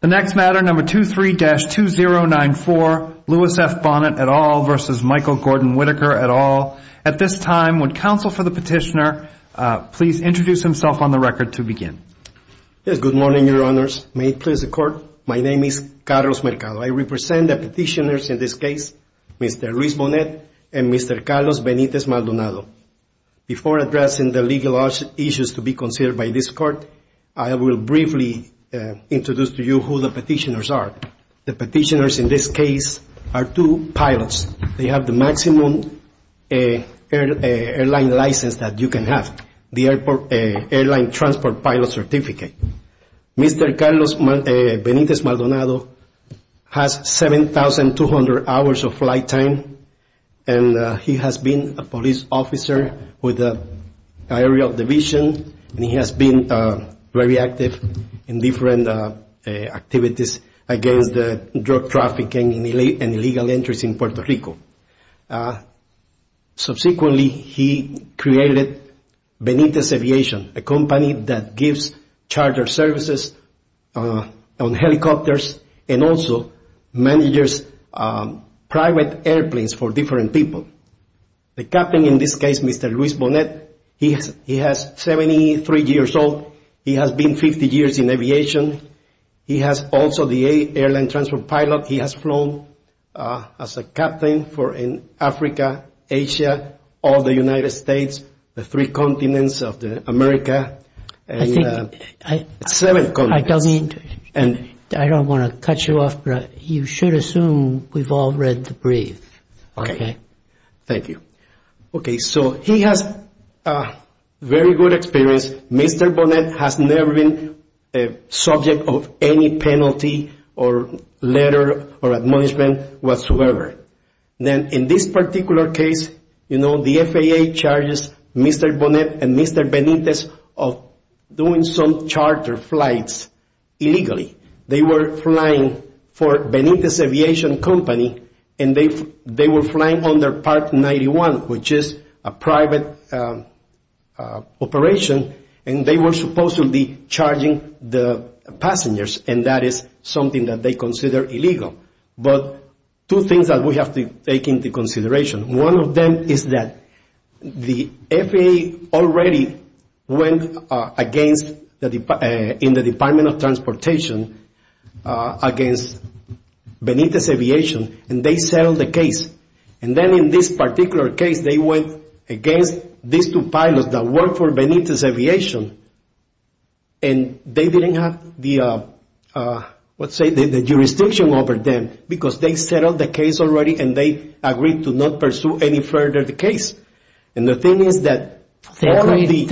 The next matter, number 23-2094, Louis F. Bonnet et al. v. Michael Gordon Whitaker et al. At this time, would counsel for the petitioner please introduce himself on the record to begin? Good morning, Your Honors. May it please the Court, my name is Carlos Mercado. I represent the petitioners in this case, Mr. Luis Bonnet and Mr. Carlos Benitez Maldonado. Before addressing the legal issues to be considered by this Court, I will briefly introduce to you who the petitioners are. The petitioners in this case are two pilots. They have the maximum airline license that you can have, the Airline Transport Pilot Certificate. Mr. Carlos Benitez Maldonado has 7,200 hours of flight time, and he has been a police officer with an aerial division, and he has been very active in different activities against drug trafficking and illegal entries in Puerto Rico. Subsequently, he created Benitez Aviation, a company that gives charger services on helicopters and also manages private airplanes for different people. The captain in this case, Mr. Luis Bonnet, he has 73 years old. He has been 50 years in aviation. He has also the Airline Transport Pilot. He has flown as a captain in Africa, Asia, all the United States, the three continents of America, and seven continents. I don't want to cut you off, but you should assume we've all read the brief. Okay, thank you. Okay, so he has very good experience. Mr. Bonnet has never been subject of any penalty or letter or admonishment whatsoever. Then in this particular case, you know, the FAA charges Mr. Bonnet and Mr. Benitez of doing some charger flights illegally. They were flying for Benitez Aviation Company, and they were flying under Part 91, which is a private operation, and they were supposed to be charging the passengers, and that is something that they consider illegal. But two things that we have to take into consideration. One of them is that the FAA already went in the Department of Transportation against Benitez Aviation, and they settled the case. And then in this particular case, they went against these two pilots that work for Benitez Aviation, and they didn't have the, let's say, the jurisdiction over them because they settled the case already, and they agreed to not pursue any further the case. And the thing is that all of the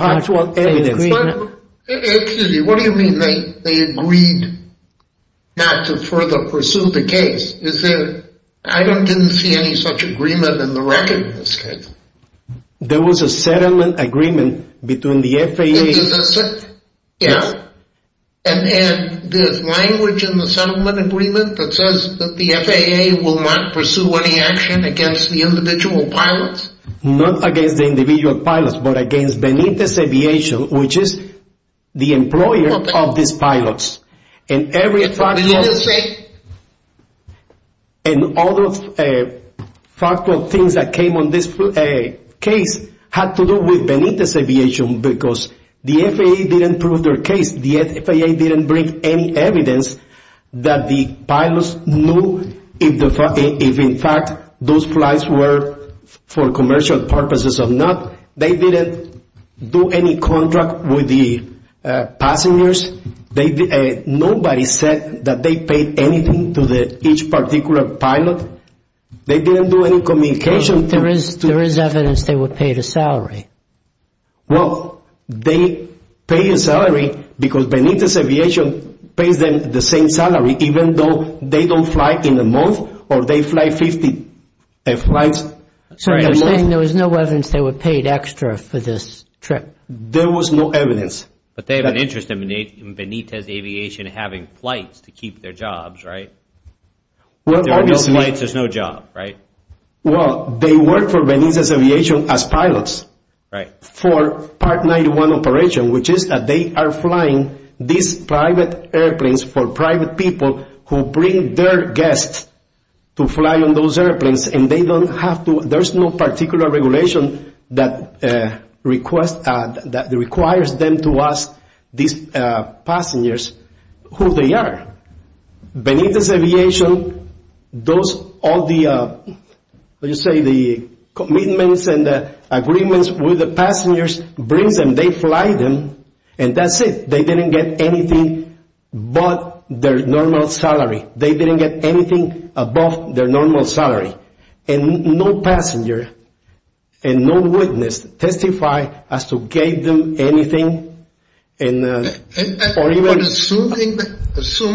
actual evidence. Excuse me, what do you mean they agreed not to further pursue the case? I didn't see any such agreement in the record in this case. There was a settlement agreement between the FAA. Is this it? Yes. And there's language in the settlement agreement that says that the FAA will not pursue any action against the individual pilots? Not against the individual pilots, but against Benitez Aviation, which is the employer of these pilots. And all of the factual things that came on this case had to do with Benitez Aviation because the FAA didn't prove their case. The FAA didn't bring any evidence that the pilots knew if in fact those flights were for commercial purposes or not. They didn't do any contract with the passengers. Nobody said that they paid anything to each particular pilot. They didn't do any communication. There is evidence they were paid a salary. Well, they paid a salary because Benitez Aviation pays them the same salary even though they don't fly in a month or they fly 50 flights. So you're saying there was no evidence they were paid extra for this trip? There was no evidence. But they have an interest in Benitez Aviation having flights to keep their jobs, right? There are no flights. There's no job, right? Well, they work for Benitez Aviation as pilots for Part 91 operation, which is that they are flying these private airplanes for private people who bring their guests to fly on those airplanes. There's no particular regulation that requires them to ask these passengers who they are. Benitez Aviation does all the commitments and agreements with the passengers, brings them, they fly them, and that's it. They didn't get anything but their normal salary. They didn't get anything above their normal salary. And no passenger and no witness testified as to gave them anything. Assuming that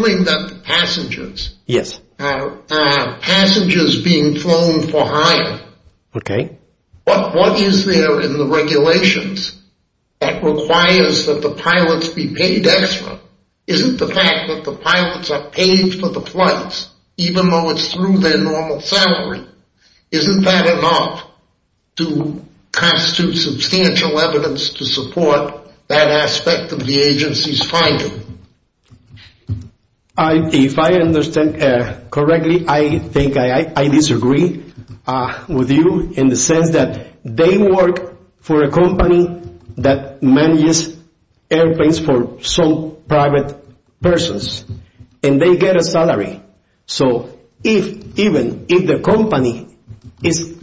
the passengers are passengers being flown for hire, what is there in the regulations that requires that the pilots be paid extra? Isn't the fact that the pilots are paid for the flights, even though it's through their normal salary, isn't that enough to constitute substantial evidence to support that aspect of the agency's finding? If I understand correctly, I think I disagree with you in the sense that they work for a company that manages airplanes for some private persons, and they get a salary. So even if the company is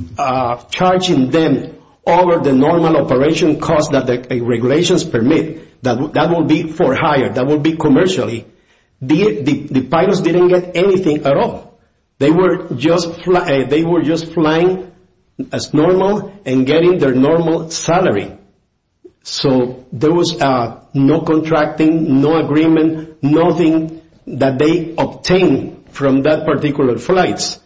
charging them over the normal operation cost that the regulations permit, that will be for hire, that will be commercially, the pilots didn't get anything at all. They were just flying as normal and getting their normal salary. So there was no contracting, no agreement, nothing that they obtained from that particular flights.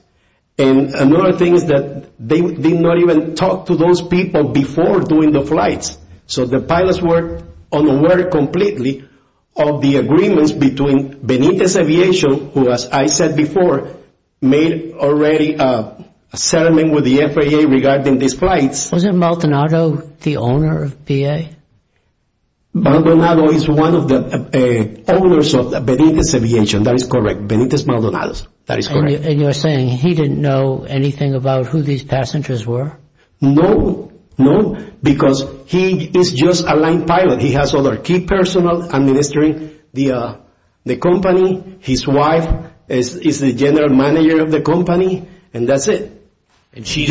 And another thing is that they did not even talk to those people before doing the flights. So the pilots were unaware completely of the agreements between Benitez Aviation, who, as I said before, made already a settlement with the FAA regarding these flights. Wasn't Maldonado the owner of BA? Maldonado is one of the owners of Benitez Aviation, that is correct, Benitez Maldonados, that is correct. And you're saying he didn't know anything about who these passengers were? No, no, because he is just a line pilot. He has other key personnel administering the company. His wife is the general manager of the company, and that's it. He's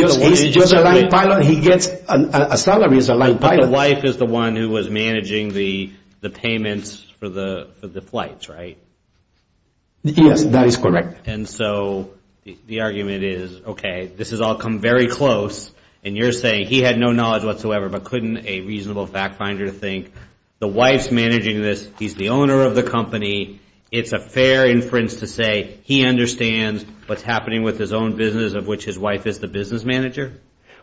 just a line pilot. He gets a salary as a line pilot. But the wife is the one who was managing the payments for the flights, right? Yes, that is correct. And so the argument is, okay, this has all come very close, and you're saying he had no knowledge whatsoever, but couldn't a reasonable fact finder think the wife's managing this, he's the owner of the company, it's a fair inference to say he understands what's happening with his own business, of which his wife is the business manager?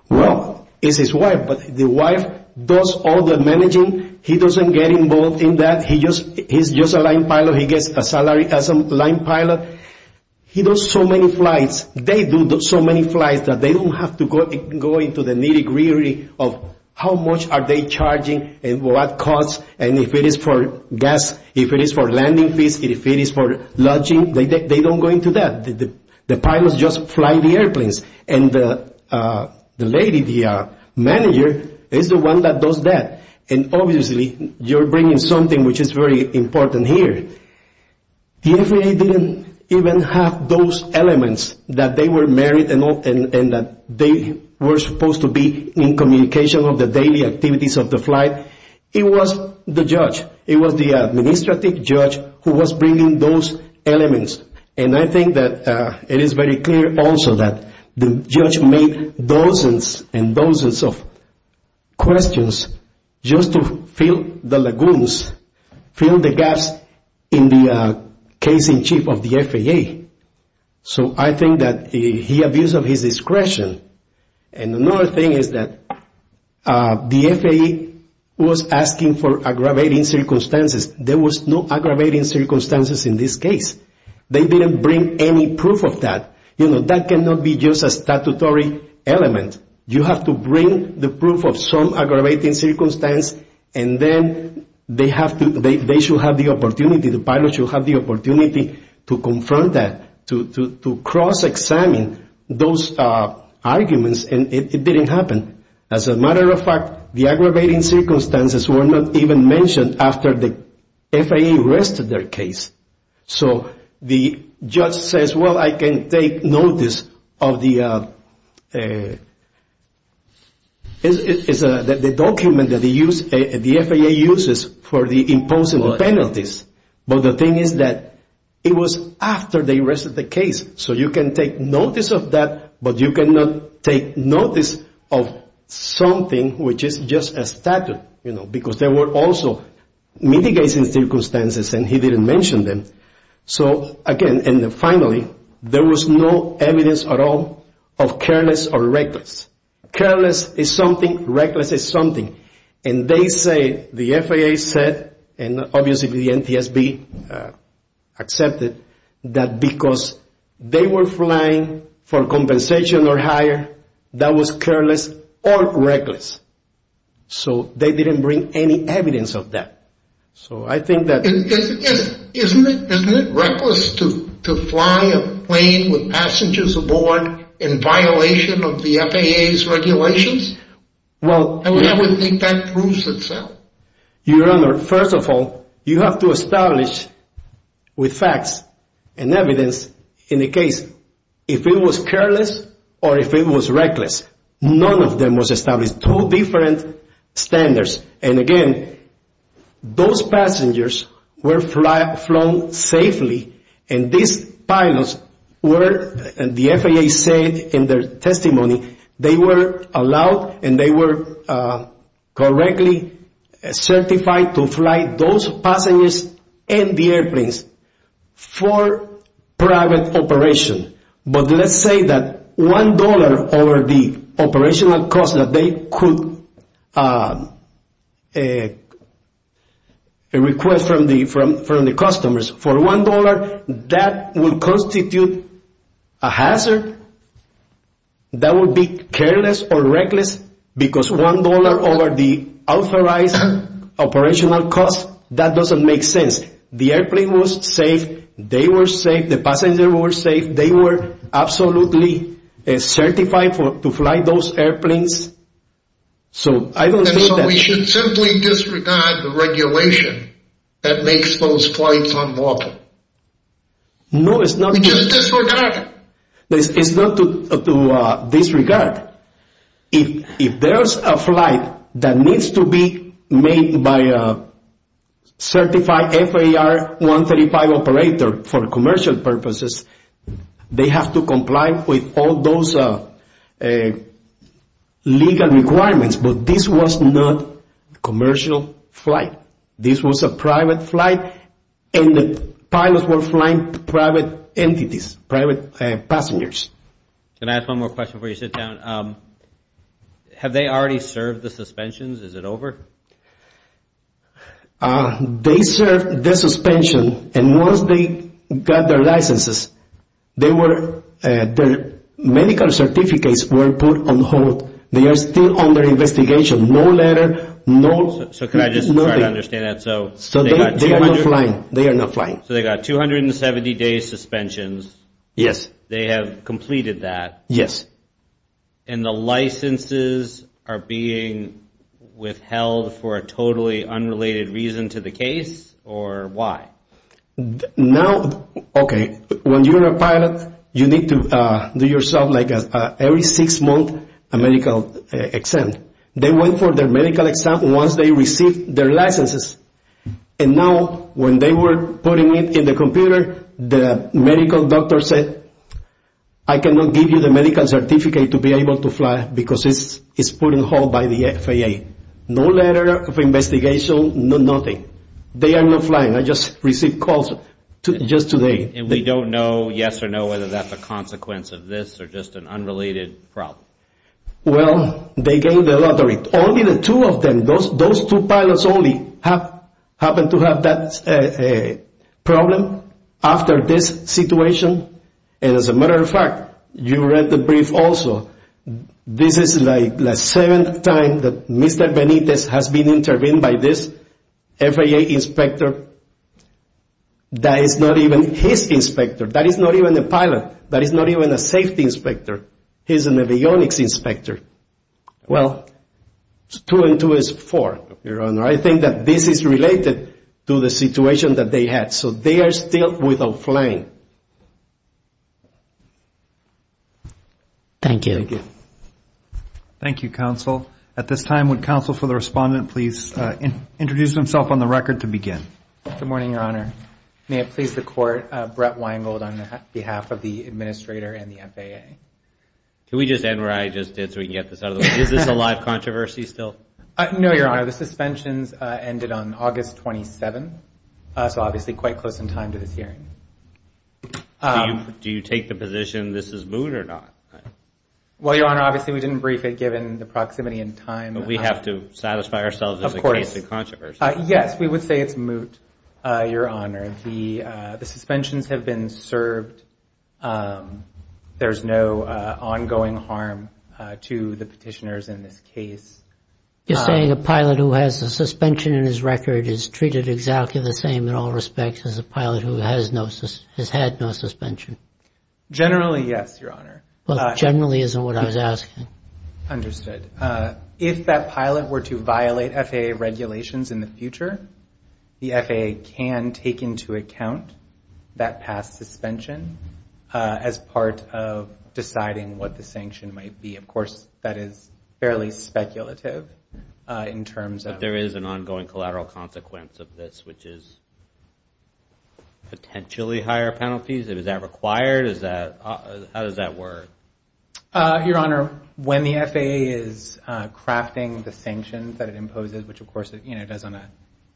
Well, it's his wife, but the wife does all the managing. He doesn't get involved in that. He's just a line pilot. So he gets a salary as a line pilot. He does so many flights. They do so many flights that they don't have to go into the nitty-gritty of how much are they charging and what cost, and if it is for gas, if it is for landing fees, if it is for lodging. They don't go into that. The pilots just fly the airplanes, and the lady, the manager, is the one that does that. And obviously you're bringing something which is very important here. The FAA didn't even have those elements that they were married and that they were supposed to be in communication of the daily activities of the flight. It was the judge. It was the administrative judge who was bringing those elements, and I think that it is very clear also that the judge made dozens and dozens of questions just to fill the lagoons, fill the gaps in the case-in-chief of the FAA. So I think that he abused of his discretion. And another thing is that the FAA was asking for aggravating circumstances. There was no aggravating circumstances in this case. They didn't bring any proof of that. That cannot be just a statutory element. You have to bring the proof of some aggravating circumstance, and then they should have the opportunity, the pilot should have the opportunity to confront that, to cross-examine those arguments, and it didn't happen. As a matter of fact, the aggravating circumstances were not even mentioned after the FAA arrested their case. So the judge says, well, I can take notice of the document that the FAA uses for the imposing penalties, but the thing is that it was after they arrested the case. So you can take notice of that, but you cannot take notice of something which is just a statute, because there were also mitigating circumstances, and he didn't mention them. So, again, and finally, there was no evidence at all of careless or reckless. Careless is something. Reckless is something. And they say, the FAA said, and obviously the NTSB accepted, that because they were flying for compensation or hire, that was careless or reckless. So they didn't bring any evidence of that. Isn't it reckless to fly a plane with passengers aboard in violation of the FAA's regulations? I would think that proves itself. Your Honor, first of all, you have to establish with facts and evidence in the case if it was careless or if it was reckless. None of them was established. Two different standards. And, again, those passengers were flown safely, and these pilots were, the FAA said in their testimony, they were allowed and they were correctly certified to fly those passengers and the airplanes for private operation. But let's say that $1 over the operational cost that they could request from the customers for $1, that would constitute a hazard. That would be careless or reckless because $1 over the authorized operational cost, that doesn't make sense. The airplane was safe. They were safe. The passenger was safe. They were absolutely certified to fly those airplanes. And so we should simply disregard the regulation that makes those flights unlawful. No, it's not. We just disregard it. It's not to disregard. If there's a flight that needs to be made by a certified FAR 135 operator for commercial purposes, they have to comply with all those legal requirements. But this was not a commercial flight. This was a private flight, and the pilots were flying private entities, private passengers. Can I ask one more question before you sit down? Have they already served the suspensions? Is it over? They served the suspension, and once they got their licenses, their medical certificates were put on hold. They are still under investigation. No letter, nothing. So could I just try to understand that? So they are not flying. So they got 270-day suspensions. Yes. They have completed that. Yes. And the licenses are being withheld for a totally unrelated reason to the case, or why? Now, okay, when you're a pilot, you need to do yourself like every six months a medical exam. They went for their medical exam once they received their licenses. And now when they were putting it in the computer, the medical doctor said, I cannot give you the medical certificate to be able to fly because it's put on hold by the FAA. No letter of investigation, nothing. They are not flying. I just received calls just today. And we don't know, yes or no, whether that's a consequence of this or just an unrelated problem. Well, they gave the lottery. Only the two of them, those two pilots only, happened to have that problem after this situation. And as a matter of fact, you read the brief also. This is like the seventh time that Mr. Benitez has been intervened by this FAA inspector. That is not even his inspector. That is not even a pilot. That is not even a safety inspector. He's a avionics inspector. Well, two and two is four, Your Honor. I think that this is related to the situation that they had. So they are still without flying. Thank you. Thank you, Counsel. At this time, would Counsel for the Respondent please introduce himself on the record to begin? Good morning, Your Honor. May it please the Court, Brett Weingold on behalf of the Administrator and the FAA. Can we just end where I just did so we can get this out of the way? Is this a live controversy still? No, Your Honor. The suspensions ended on August 27th, so obviously quite close in time to this hearing. Do you take the position this is moot or not? Well, Your Honor, obviously we didn't brief it given the proximity and time. But we have to satisfy ourselves as a case of controversy. Yes, we would say it's moot, Your Honor. The suspensions have been served. There's no ongoing harm to the petitioners in this case. You're saying a pilot who has a suspension in his record is treated exactly the same in all respects as a pilot who has had no suspension? Generally, yes, Your Honor. Well, generally isn't what I was asking. Understood. If that pilot were to violate FAA regulations in the future, the FAA can take into account that past suspension as part of deciding what the sanction might be. Of course, that is fairly speculative in terms of – But there is an ongoing collateral consequence of this, which is potentially higher penalties. Is that required? How does that work? Your Honor, when the FAA is crafting the sanctions that it imposes, which, of course, it does on a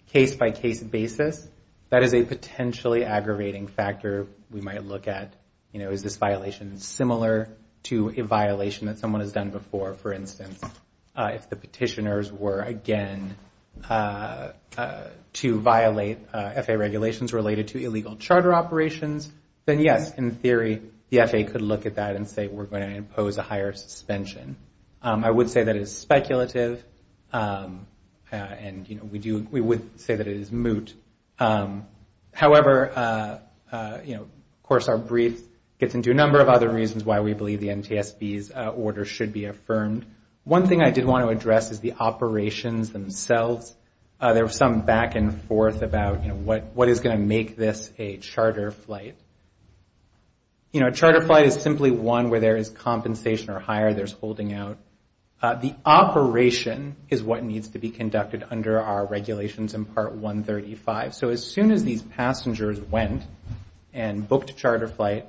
case-by-case basis, that is a potentially aggravating factor we might look at. Is this violation similar to a violation that someone has done before? For instance, if the petitioners were, again, to violate FAA regulations related to illegal charter operations, then, yes, in theory, the FAA could look at that and say we're going to impose a higher suspension. I would say that is speculative, and we would say that it is moot. However, of course, our brief gets into a number of other reasons why we believe the NTSB's order should be affirmed. One thing I did want to address is the operations themselves. There was some back and forth about, you know, what is going to make this a charter flight. You know, a charter flight is simply one where there is compensation or hire there's holding out. The operation is what needs to be conducted under our regulations in Part 135. So as soon as these passengers went and booked a charter flight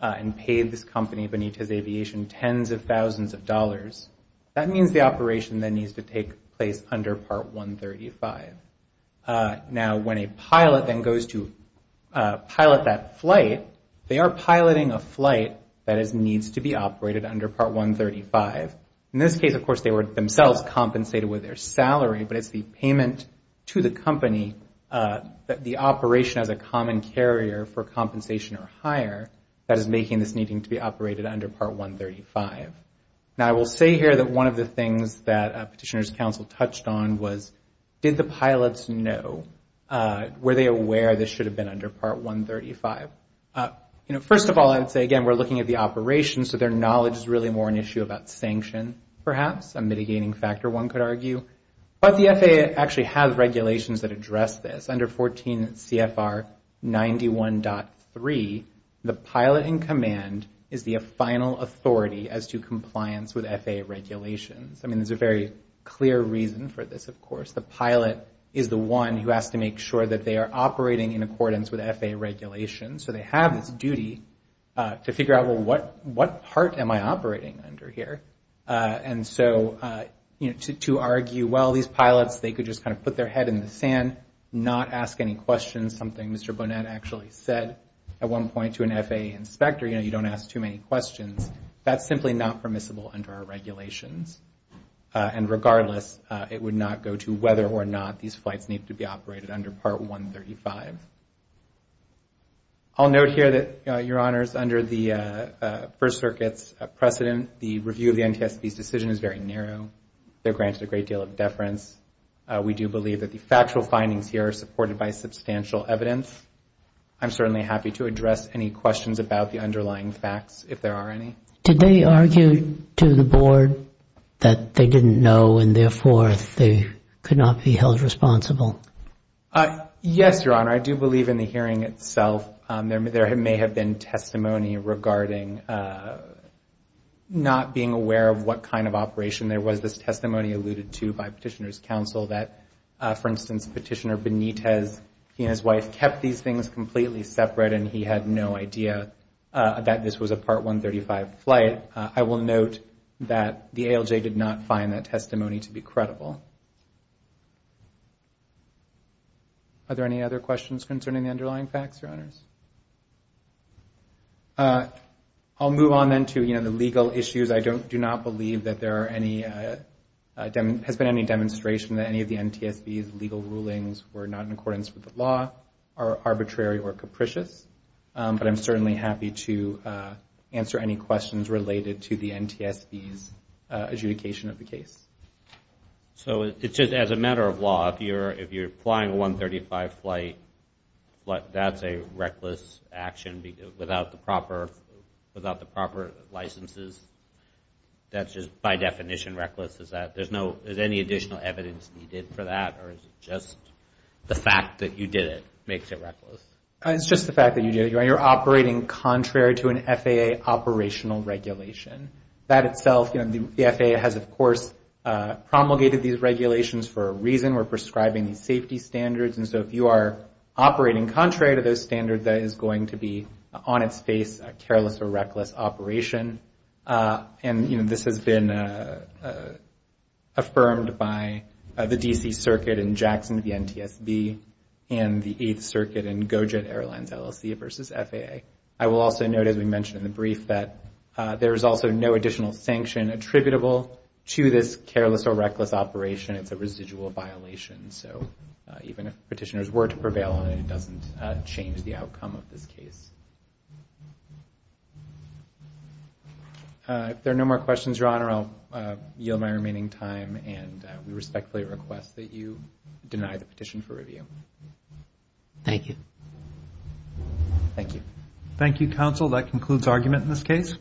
and paid this company Benitez Aviation tens of thousands of dollars, that means the operation then needs to take place under Part 135. Now, when a pilot then goes to pilot that flight, they are piloting a flight that needs to be operated under Part 135. In this case, of course, they were themselves compensated with their salary, but it's the payment to the company that the operation has a common carrier for compensation or hire that is making this needing to be operated under Part 135. Now, I will say here that one of the things that Petitioner's Council touched on was, did the pilots know, were they aware this should have been under Part 135? You know, first of all, I would say, again, we're looking at the operations, so their knowledge is really more an issue about sanction, perhaps, a mitigating factor, one could argue. But the FAA actually has regulations that address this. Under 14 CFR 91.3, the pilot in command is the final authority as to compliance with FAA regulations. I mean, there's a very clear reason for this, of course. The pilot is the one who has to make sure that they are operating in accordance with FAA regulations, so they have this duty to figure out, well, what part am I operating under here? And so, you know, to argue, well, these pilots, they could just kind of put their head in the sand, not ask any questions, something Mr. Bonnet actually said at one point to an FAA inspector, you know, you don't ask too many questions. That's simply not permissible under our regulations. And regardless, it would not go to whether or not these flights need to be operated under Part 135. I'll note here that, Your Honors, under the First Circuit's precedent, the review of the NTSB's decision is very narrow. They're granted a great deal of deference. We do believe that the factual findings here are supported by substantial evidence. I'm certainly happy to address any questions about the underlying facts, if there are any. Did they argue to the board that they didn't know and, therefore, they could not be held responsible? Yes, Your Honor, I do believe in the hearing itself. There may have been testimony regarding not being aware of what kind of operation there was. This testimony alluded to by Petitioner's Counsel that, for instance, Petitioner Benitez, he and his wife kept these things completely separate and he had no idea that this was a Part 135 flight. But I will note that the ALJ did not find that testimony to be credible. Are there any other questions concerning the underlying facts, Your Honors? I'll move on then to the legal issues. I do not believe that there has been any demonstration that any of the NTSB's legal rulings were not in accordance with the law, are arbitrary or capricious. But I'm certainly happy to answer any questions related to the NTSB's adjudication of the case. So it's just as a matter of law, if you're applying a 135 flight, that's a reckless action without the proper licenses? That's just by definition reckless? Is there any additional evidence needed for that or is it just the fact that you did it makes it reckless? It's just the fact that you're operating contrary to an FAA operational regulation. That itself, the FAA has, of course, promulgated these regulations for a reason. We're prescribing these safety standards. And so if you are operating contrary to those standards, that is going to be, on its face, a careless or reckless operation. And, you know, this has been affirmed by the D.C. Circuit in Jackson v. NTSB and the Eighth Circuit in Go Jet Airlines LLC v. FAA. I will also note, as we mentioned in the brief, that there is also no additional sanction attributable to this careless or reckless operation. It's a residual violation. So even if petitioners were to prevail on it, it doesn't change the outcome of this case. If there are no more questions, Your Honor, I'll yield my remaining time. And we respectfully request that you deny the petition for review. Thank you. Thank you. Thank you, counsel. That concludes argument in this case.